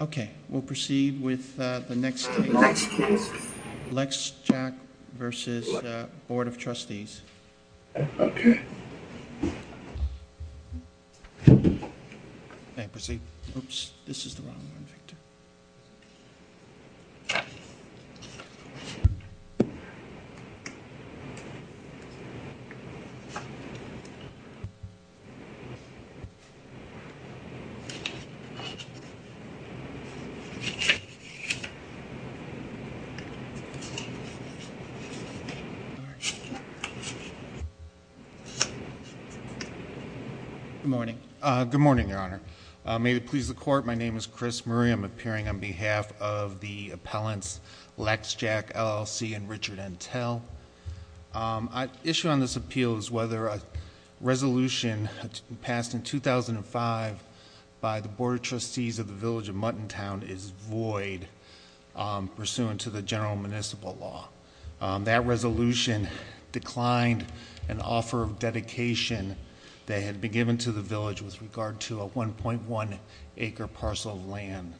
Okay, we'll proceed with the next case. Lexjac v. Board of Trustees. Good morning, Your Honor. May it please the Court, my name is Chris Murray. I'm appearing on behalf of the appellants Lexjac, LLC, and Richard Entel. The issue on this appeal is whether a resolution passed in 2005 by the Board of Trustees of the Village of Muttontown is void pursuant to the general municipal law. That resolution declined an offer of dedication that had been given to the village with regard to a 1.1 acre parcel of land.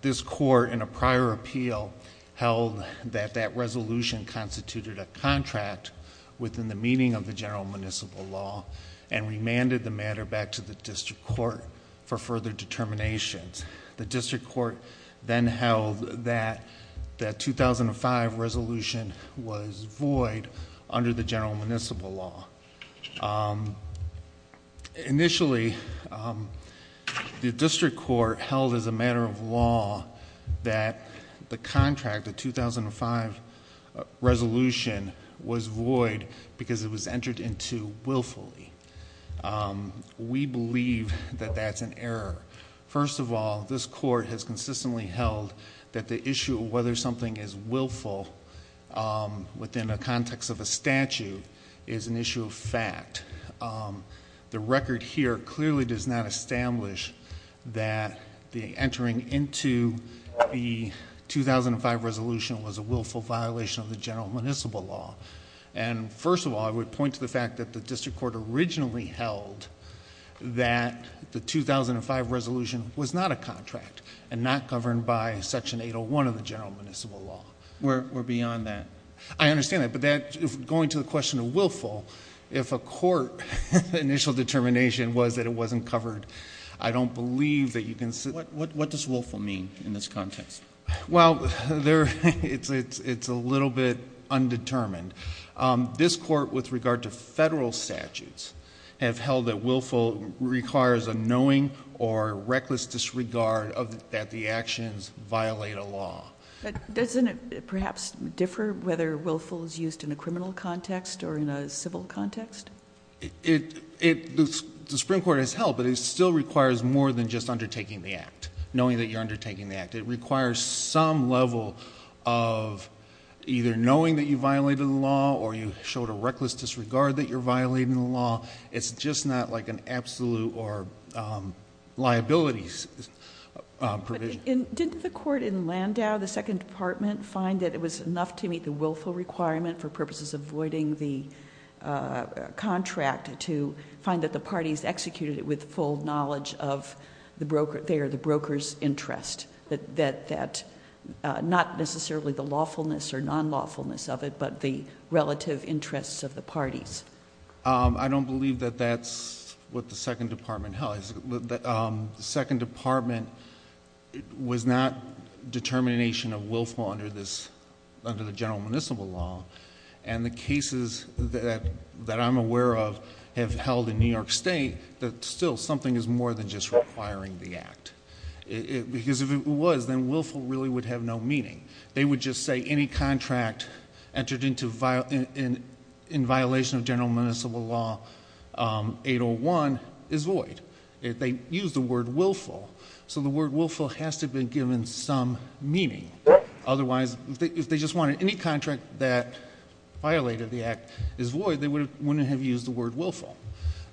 This Court in a prior appeal held that that resolution constituted a contract within the meaning of the general municipal law and remanded the matter back to the District Court for further determinations. The District Court then held that that 2005 resolution was void under the general municipal law. Initially, the District Court held as a matter of law that the contract, the 2005 resolution, was void because it was entered into willfully. We believe that that's an error. First of all, this Court has consistently held that the issue of whether something is willful within the context of a statute is an issue of fact. The record here clearly does not establish that the entering into the 2005 resolution was a willful violation of the general municipal law. First of all, I would point to the fact that the District Court originally held that the 2005 resolution was not a contract and not governed by Section 801 of the general municipal law. We're beyond that. I understand that, but going to the question of willful, if a court's initial determination was that it wasn't covered, I don't believe that you can say that. What does willful mean in this context? Well, it's a little bit undetermined. This Court, with regard to federal statutes, has held that willful requires a knowing or reckless disregard that the actions violate a law. Doesn't it perhaps differ whether willful is used in a criminal context or in a civil context? The Supreme Court has held that it still requires more than just undertaking the act, knowing that you're undertaking the act. It requires some level of either knowing that you violated the law or you showed a reckless disregard that you're violating the law. It's just not like an absolute or liabilities provision. Didn't the court in Landau, the Second Department, find that it was enough to meet the willful requirement for purposes of voiding the contract to find that the parties executed it with full knowledge of the broker's interest, not necessarily the lawfulness or non-lawfulness of it, but the relative interests of the parties? I don't believe that that's what the Second Department held. The Second Department was not determination of willful under the general municipal law. The cases that I'm aware of have held in New York State that still something is more than just requiring the act. Because if it was, then willful really would have no meaning. They would just say any contract entered in violation of general municipal law 801 is void. They used the word willful. The word willful has to have been given some meaning. Otherwise, if they just wanted any contract that violated the act is void, they wouldn't have used the word willful.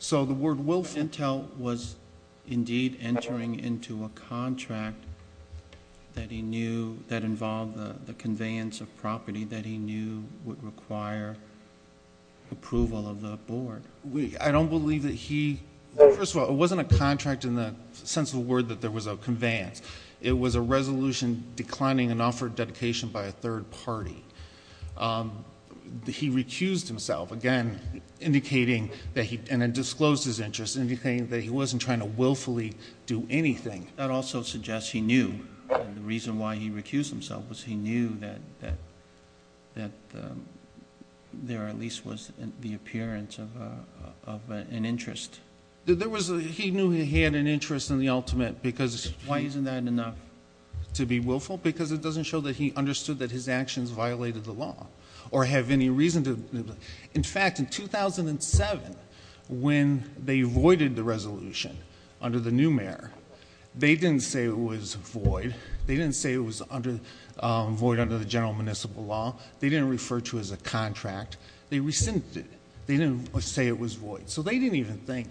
The word willful... He knew would require approval of the board. I don't believe that he... First of all, it wasn't a contract in the sense of the word that there was a conveyance. It was a resolution declining an offer of dedication by a third party. He recused himself, again, indicating that he... and then disclosed his interest, indicating that he wasn't trying to willfully do anything. That also suggests he knew. The reason why he recused himself was he knew that there at least was the appearance of an interest. He knew he had an interest in the ultimate because... Why isn't that enough to be willful? Because it doesn't show that he understood that his actions violated the law or have any reason to... In fact, in 2007, when they voided the resolution under the new mayor, they didn't say it was void. They didn't say it was void under the general municipal law. They didn't refer to it as a contract. They rescinded it. They didn't say it was void. They didn't even think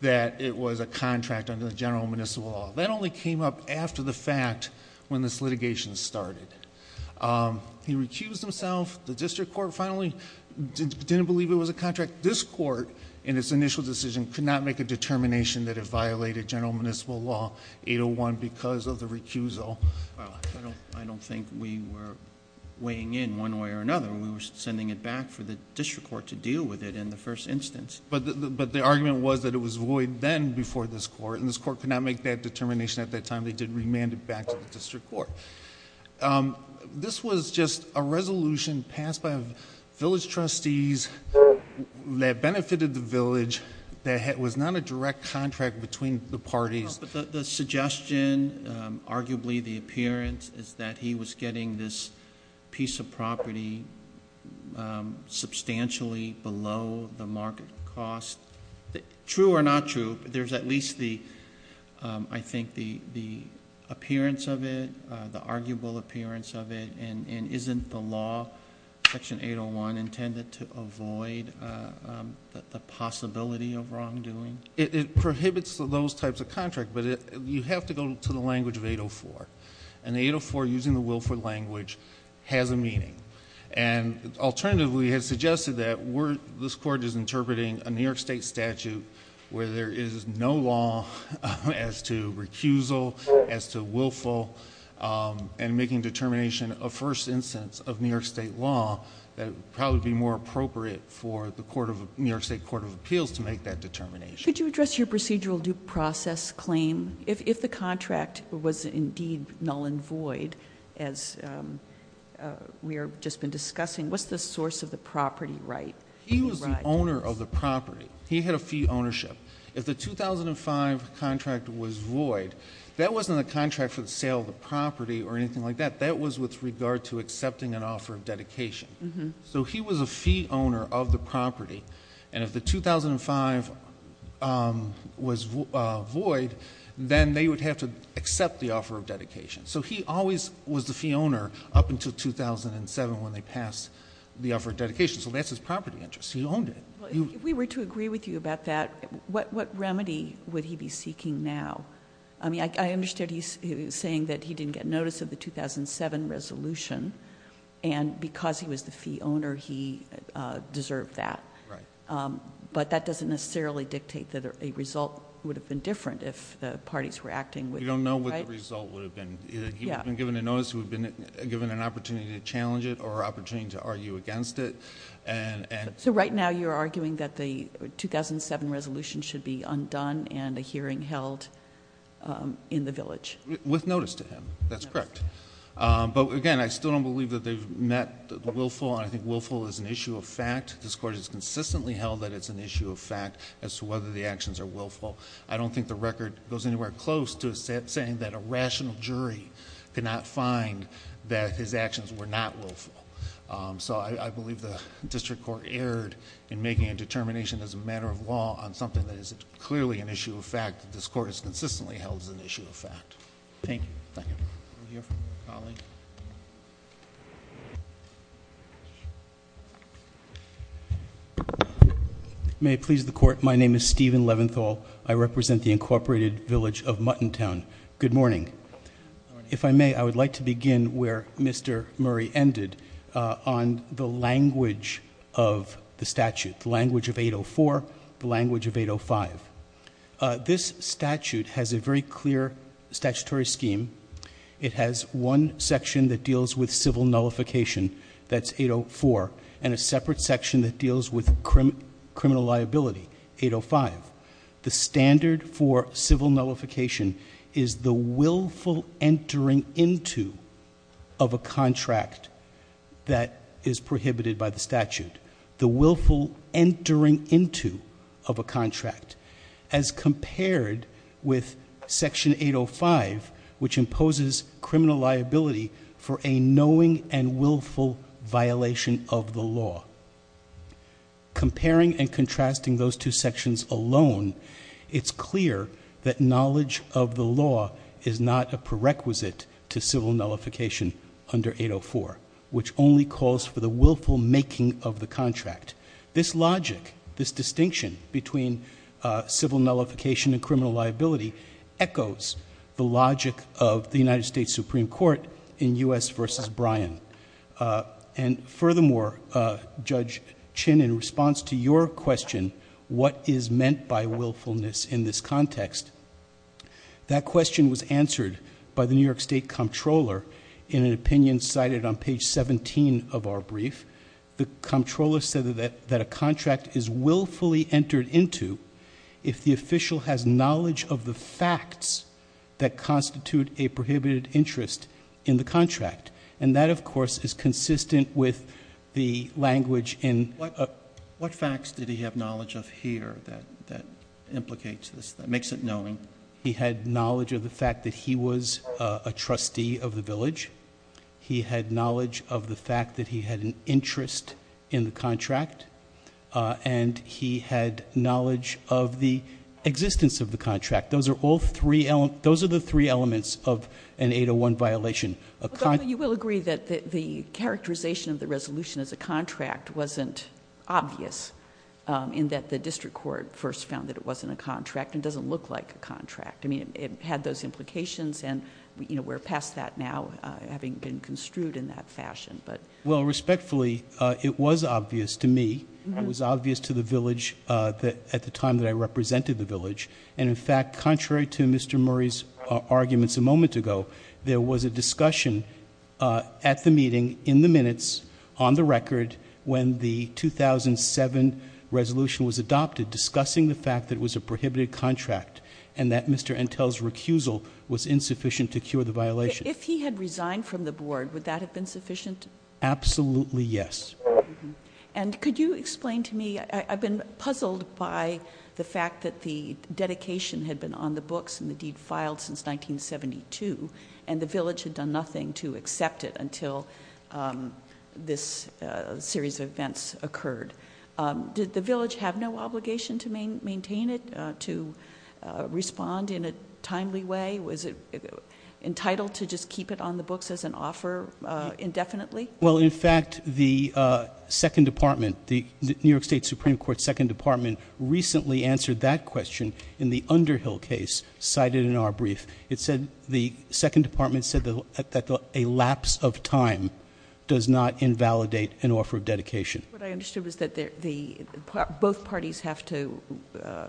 that it was a contract under the general municipal law. That only came up after the fact when this litigation started. He recused himself. The district court finally didn't believe it was a contract. This court, in its initial decision, could not make a determination that it violated general municipal law 801 because of the recusal. I don't think we were weighing in one way or another. We were sending it back for the district court to deal with it in the first instance. The argument was that it was void then before this court. This court could not make that determination at that time. They did remand it back to the district court. This was just a resolution passed by a village trustee that benefited the village that was not a direct contract between the parties. The suggestion, arguably the appearance, is that he was getting this piece of property substantially below the market cost. True or not true, there's at least the appearance of it, the arguable appearance of it. Isn't the law, section 801, intended to avoid the possibility of wrongdoing? It prohibits those types of contracts. You have to go to the language of 804. The 804, using the Wilford language, has a meaning. Alternatively, it has suggested that this court is interpreting a New York State statute where there is no law as to recusal, as to willful, and making determination a first instance of New York State law that would probably be more appropriate for the New York State Court of Appeals to make that determination. Could you address your procedural due process claim? If the contract was indeed null and void, as we have just been discussing, what's the source of the property right? He was the owner of the property. He had a fee ownership. If the 2005 contract was void, that wasn't a contract for the sale of the property or anything like that. That was with regard to accepting an offer of dedication. He was a fee owner of the property. If the 2005 was void, then they would have to accept the offer of dedication. He always was the fee owner up until 2007 when they passed the offer of dedication. That's his property interest. He owned it. If we were to agree with you about that, what remedy would he be seeking now? I understood he's saying that he didn't get notice of the 2007 resolution. Because he was the fee owner, he deserved that. That doesn't necessarily dictate that a result would have been different if the parties were acting with him. You don't know what the result would have been. He would have been given a notice. He would have been given an opportunity to challenge it or an opportunity to argue against it. So right now you're arguing that the 2007 resolution should be undone and a hearing held in the village? With notice to him. That's correct. But again, I still don't believe that they've met the willful. I think willful is an issue of fact. This Court has consistently held that it's an issue of fact as to whether the actions are willful. I don't think the record goes anywhere close to saying that a rational jury could not find that his actions were not willful. So I believe the District Court erred in making a determination as a matter of law on something that is clearly an issue of fact. This Court has consistently held it's an issue of fact. May it please the Court, my name is Stephen Leventhal. I represent the incorporated village of Muttontown. Good morning. If I may, I would like to begin where Mr. Murray ended on the language of the statute, the language of 804, the language of 805. This statute has a very clear statutory scheme. It has one section that deals with civil nullification, that's 804, and a separate section that deals with criminal liability, 805. The standard for nullification is the willful entering into of a contract that is prohibited by the statute. The willful entering into of a contract. As compared with section 805, which imposes criminal liability for a knowing and willful violation of the law. Comparing and contrasting those two sections alone, it's clear that knowledge of the law is not a prerequisite to civil nullification under 804, which only calls for the willful making of the contract. This logic, this distinction between civil nullification and criminal liability echoes the logic of the United States Supreme Court in U.S. v. Bryan. And furthermore, Judge Chin, in response to your question, what is meant by willfulness in this context, that question was answered by the New York State Comptroller in an opinion cited on page 17 of our brief. The Comptroller said that a contract is willfully entered into if the official has knowledge of the facts that constitute a prohibited interest in the contract. And that, of course, is consistent with the language in... What facts did he have knowledge of here that implicates this, that makes it knowing? He had knowledge of the fact that he was a trustee of the village. He had knowledge of the fact that he had an interest in the contract. And he had knowledge of the existence of the contract. Those are all three, those are the three elements of an 801 violation. You will agree that the characterization of the resolution as a contract wasn't obvious in that the district court first found that it wasn't a contract and doesn't look like a contract. I mean, it had those implications and we're past that now, having been construed in that fashion. Well, respectfully, it was obvious to me. It was obvious to the village at the time that I represented the village. And in fact, contrary to Mr. Murray's arguments a moment ago, there was a discussion at the meeting, in the minutes, on the record, when the 2007 resolution was adopted, discussing the fact that it was a prohibited contract and that Mr. Entel's recusal was insufficient to cure the violation. If he had resigned from the board, would that have been sufficient? Absolutely yes. And could you explain to me... I've been puzzled by the fact that the dedication had been on the books and the deed filed since 1972, and the village had done nothing to accept it until this series of events occurred. Did the village have no obligation to maintain it, to respond in a timely way? Was it entitled to just keep it on the books as an offer indefinitely? Well, in fact, the second department, the New York State Supreme Court's second department recently answered that question in the Underhill case cited in our brief. It said... the second department said that a lapse of time does not invalidate an offer of dedication. What I understood was that both parties have to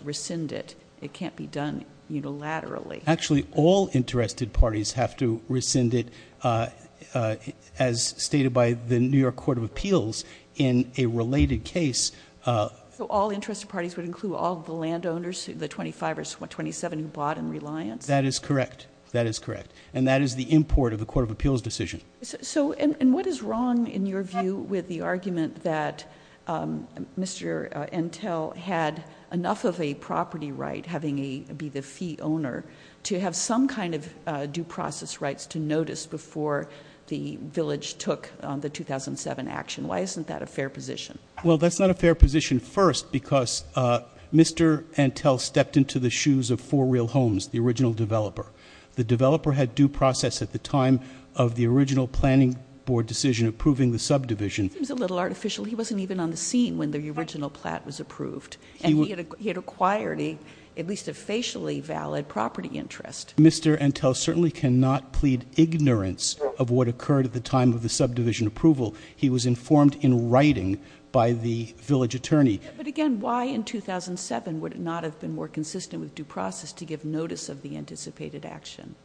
rescind it. It can't be done unilaterally. Actually all interested parties have to rescind it, as stated by the New York Court of Appeals, in a related case. So all interested parties would include all the landowners, the 25 or 27 who bought in Reliance? That is correct. That is correct. And that is the import of the Court of Appeals decision. And what is wrong in your view with the argument that Mr. Entell had enough of a property right, having he be the fee owner, to have some kind of due process rights to notice before the village took the 2007 action? Why isn't that a fair position? Well, that's not a fair position first because Mr. Entell stepped into the shoes of Four Real Homes, the original developer. The developer had due process at the time of the original planning board decision approving the subdivision. It seems a little artificial. He wasn't even on the scene when the original plat was approved. And he had acquired at least a facially valid property interest. Mr. Entell certainly cannot plead ignorance of what occurred at the time of the subdivision approval. He was informed in writing by the village attorney. But again, why in 2007 would it not have been more consistent with due process to give notice of the anticipated action?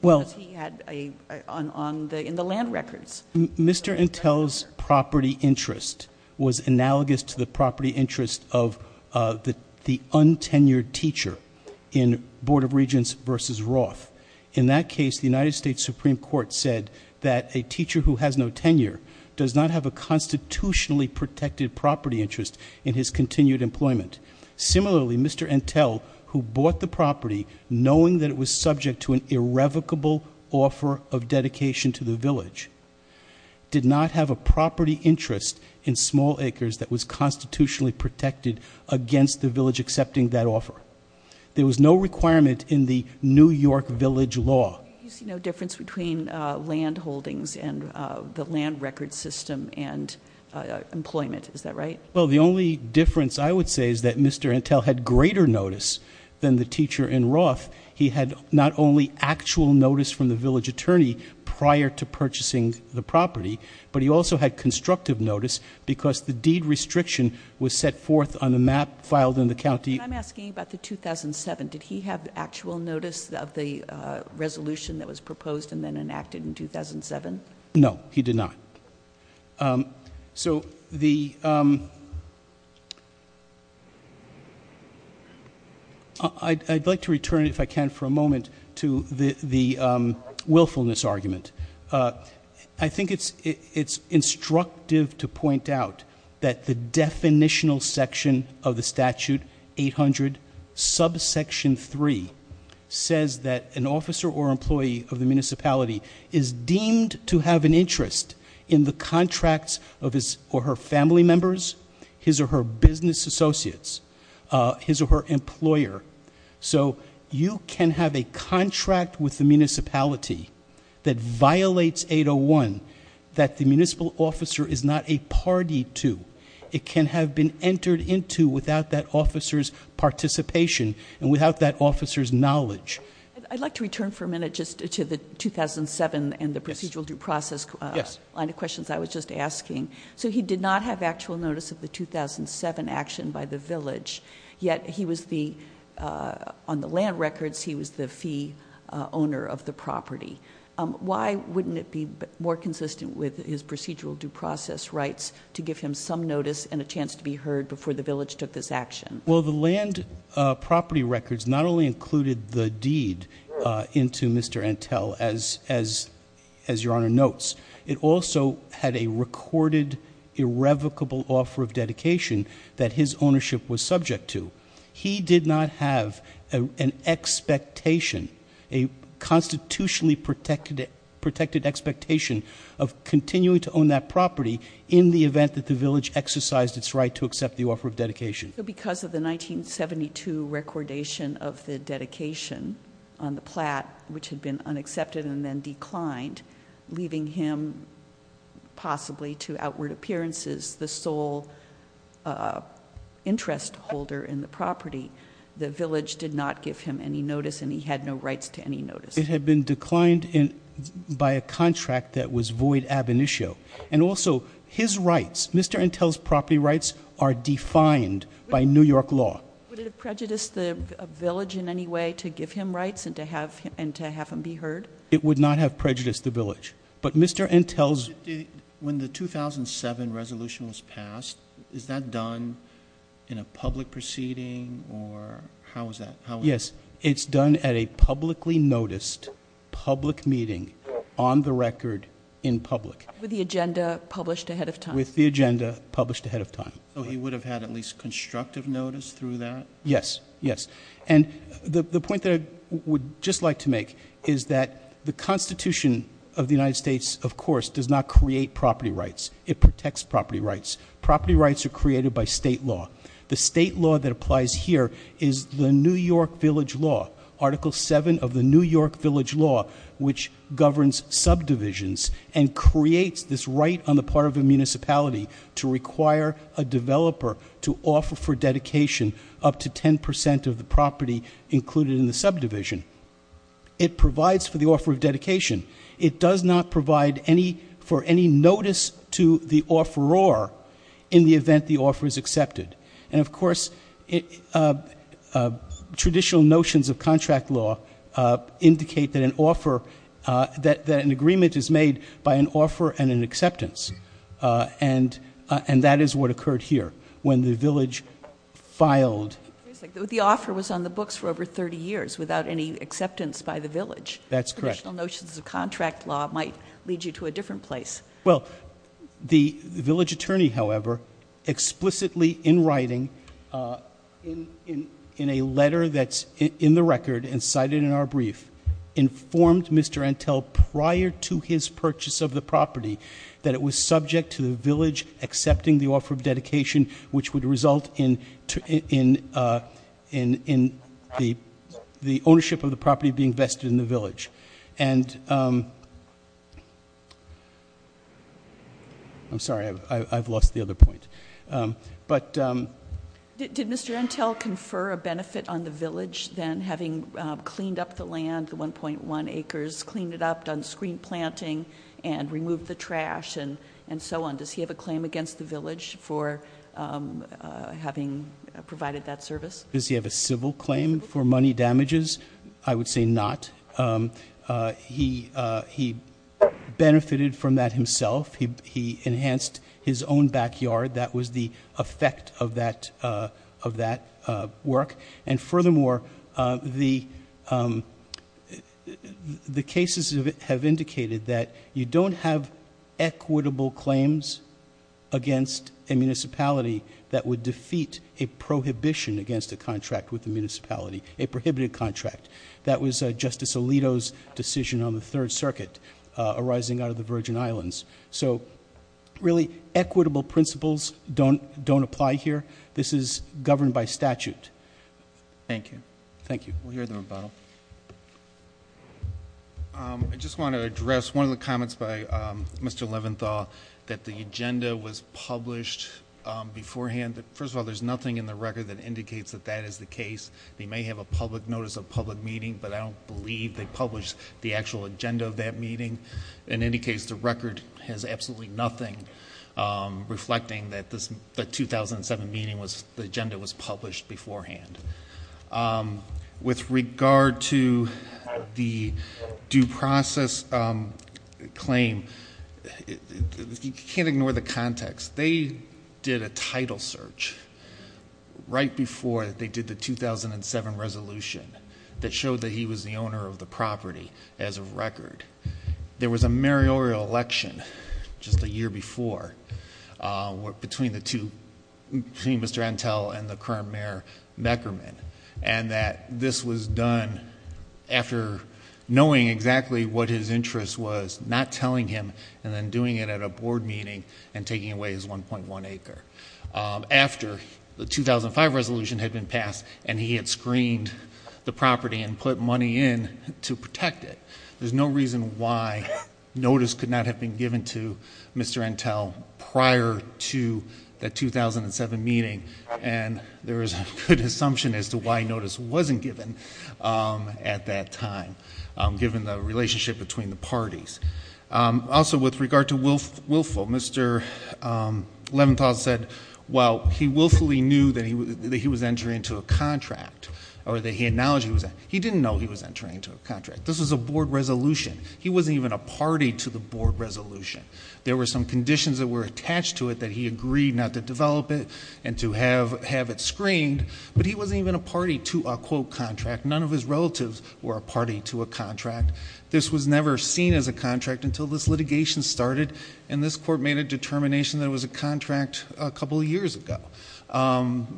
Well... Because he had a... in the land records. Mr. Entell's property interest was analogous to the property interest of the untenured teacher in Board of Regents v. Roth. In that case, the United States Supreme Court said that a teacher who has no tenure does not have a constitutionally protected property interest in his continued employment. Similarly, Mr. Entell, who bought the property knowing that it was subject to an irrevocable offer of dedication to the village, did not have a property interest in small acres that was constitutionally protected against the village accepting that offer. There was no requirement in the New York Village Law. You see no difference between land holdings and the land records system and employment. Is that right? Well, the only difference I would say is that Mr. Entell had greater notice than the teacher in Roth. He had not only actual notice from the village attorney prior to purchasing the property, but he also had constructive notice because the deed restriction was set forth on a map filed in the county. I'm asking about the 2007. Did he have actual notice of the resolution that was proposed and then enacted in 2007? No, he did not. So I'd like to return, if I can, for a moment to the willfulness argument. I think it's instructive to point out that the definitional section of the statute 800 subsection 3 says that an officer or employee of the municipality is deemed to have an interest in the contracts of his or her family members, his or her business associates, his or her employer. So you can have a contract with the municipality that violates 801 that the municipal officer is not a party to. It can have been entered into without that officer's participation and without that officer's knowledge. I'd like to return for a minute just to the 2007 and the procedural due process line of questions I was just asking. So he did not have actual notice of the 2007 action by the village. Yet he was the, on the land records, he was the fee owner of the property. Why wouldn't it be more consistent with his procedural due process rights to give him some notice and a chance to be heard before the village took this action? Well, the land property records not only included the deed into Mr. Antel as your honor notes, it also had a recorded irrevocable offer of dedication that his ownership was subject to. He did not have an expectation, a constitutionally protected expectation of continuing to own that property in the event that the village exercised its right to accept the offer of dedication. So because of the 1972 recordation of the dedication on the plat which had been unaccepted and then declined, leaving him possibly to outward appearances, the sole interest holder in the property. The village did not give him any notice and he had no rights to any notice. It had been declined by a contract that was void ab initio. And also, his rights, Mr. Antel's property rights are defined by New York law. Would it prejudice the village in any way to give him rights and to have him be heard? It would not have prejudiced the village. But Mr. Antel's- When the 2007 resolution was passed, is that done in a public proceeding or how is that? Yes, it's done at a publicly noticed public meeting on the record in public. With the agenda published ahead of time. With the agenda published ahead of time. So he would have had at least constructive notice through that? Yes, yes. And the point that I would just like to make is that the constitution of the United States, of course, does not create property rights. It protects property rights. Property rights are created by state law. The state law that applies here is the New York village law. Article seven of the New York village law, which governs subdivisions and creates this right on the part of the municipality to require a developer to offer for a property included in the subdivision, it provides for the offer of dedication. It does not provide for any notice to the offeror in the event the offer is accepted. And of course, traditional notions of contract law indicate that an agreement is made by an offer and an acceptance. And that is what occurred here when the village filed- The offer was on the books for over 30 years without any acceptance by the village. That's correct. Traditional notions of contract law might lead you to a different place. Well, the village attorney, however, explicitly in writing, in a letter that's in the record and cited in our brief, informed Mr. Antel prior to his purchase of the property that it was subject to the village accepting the offer of dedication, which would result in the ownership of the property being vested in the village. And I'm sorry, I've lost the other point. But- Did Mr. Antel confer a benefit on the village than having cleaned up the land, the 1.1 acres, cleaned it up, done screen planting, and removed the trash, and so on? Does he have a claim against the village for having provided that service? Does he have a civil claim for money damages? I would say not. He benefited from that himself. He enhanced his own backyard. That was the effect of that work. And furthermore, the cases have indicated that you don't have equitable claims against a municipality that would defeat a prohibition against a contract with the municipality, a prohibited contract. That was Justice Alito's decision on the Third Circuit, arising out of the Virgin Islands. So, really, equitable principles don't apply here. This is governed by statute. Thank you. Thank you. We'll hear the rebuttal. I just want to address one of the comments by Mr. Leventhal that the agenda was published beforehand. First of all, there's nothing in the record that indicates that that is the case. They may have a public notice of public meeting, but I don't believe they published the actual agenda of that meeting. In any case, the record has absolutely nothing reflecting that the 2007 meeting was, the agenda was published beforehand. With regard to the due process claim, you can't ignore the context. They did a title search right before they did the 2007 resolution that showed that he was the owner of the property as of record. There was a meriorial election just a year before between the two, between Mr. Entel and the current mayor, Meckerman. And that this was done after knowing exactly what his interest was, not telling him and then doing it at a board meeting and taking away his 1.1 acre. After the 2005 resolution had been passed and he had screened the property and put money in to protect it. There's no reason why notice could not have been given to Mr. Entel prior to the 2007 meeting and there is a good assumption as to why notice wasn't given at that time, given the relationship between the parties. Also with regard to willful, Mr. Leventhal said, well, he willfully knew that he was entering into a contract, or that he acknowledged he was. He didn't know he was entering into a contract. This was a board resolution. He wasn't even a party to the board resolution. There were some conditions that were attached to it that he agreed not to develop it and to have it screened. But he wasn't even a party to a quote contract. None of his relatives were a party to a contract. This was never seen as a contract until this litigation started. And this court made a determination that it was a contract a couple of years ago.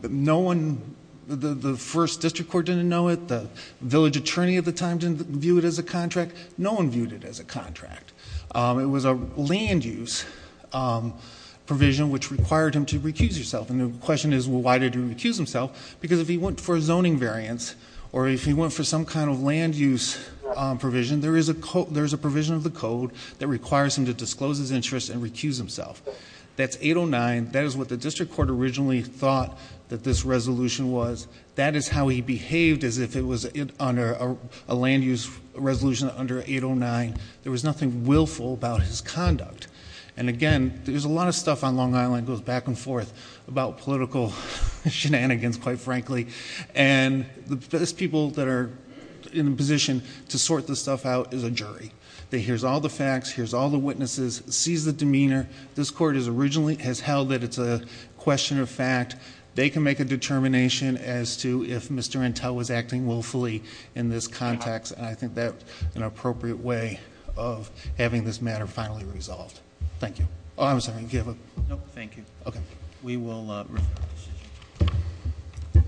No one, the first district court didn't know it. The village attorney at the time didn't view it as a contract. No one viewed it as a contract. It was a land use provision which required him to recuse himself. And the question is, well, why did he recuse himself? Because if he went for zoning variance, or if he went for some kind of land use provision, there is a provision of the code that requires him to disclose his interest and recuse himself. That's 809, that is what the district court originally thought that this resolution was. That is how he behaved as if it was under a land use resolution under 809. There was nothing willful about his conduct. And again, there's a lot of stuff on Long Island that goes back and forth about political shenanigans, quite frankly. And the best people that are in a position to sort this stuff out is a jury. They hears all the facts, hears all the witnesses, sees the demeanor. This court has held that it's a question of fact. They can make a determination as to if Mr. Intel was acting willfully in this context. And I think that's an appropriate way of having this matter finally resolved. Thank you. I'm sorry, do you have a- No, thank you. Okay. We will refer to this issue.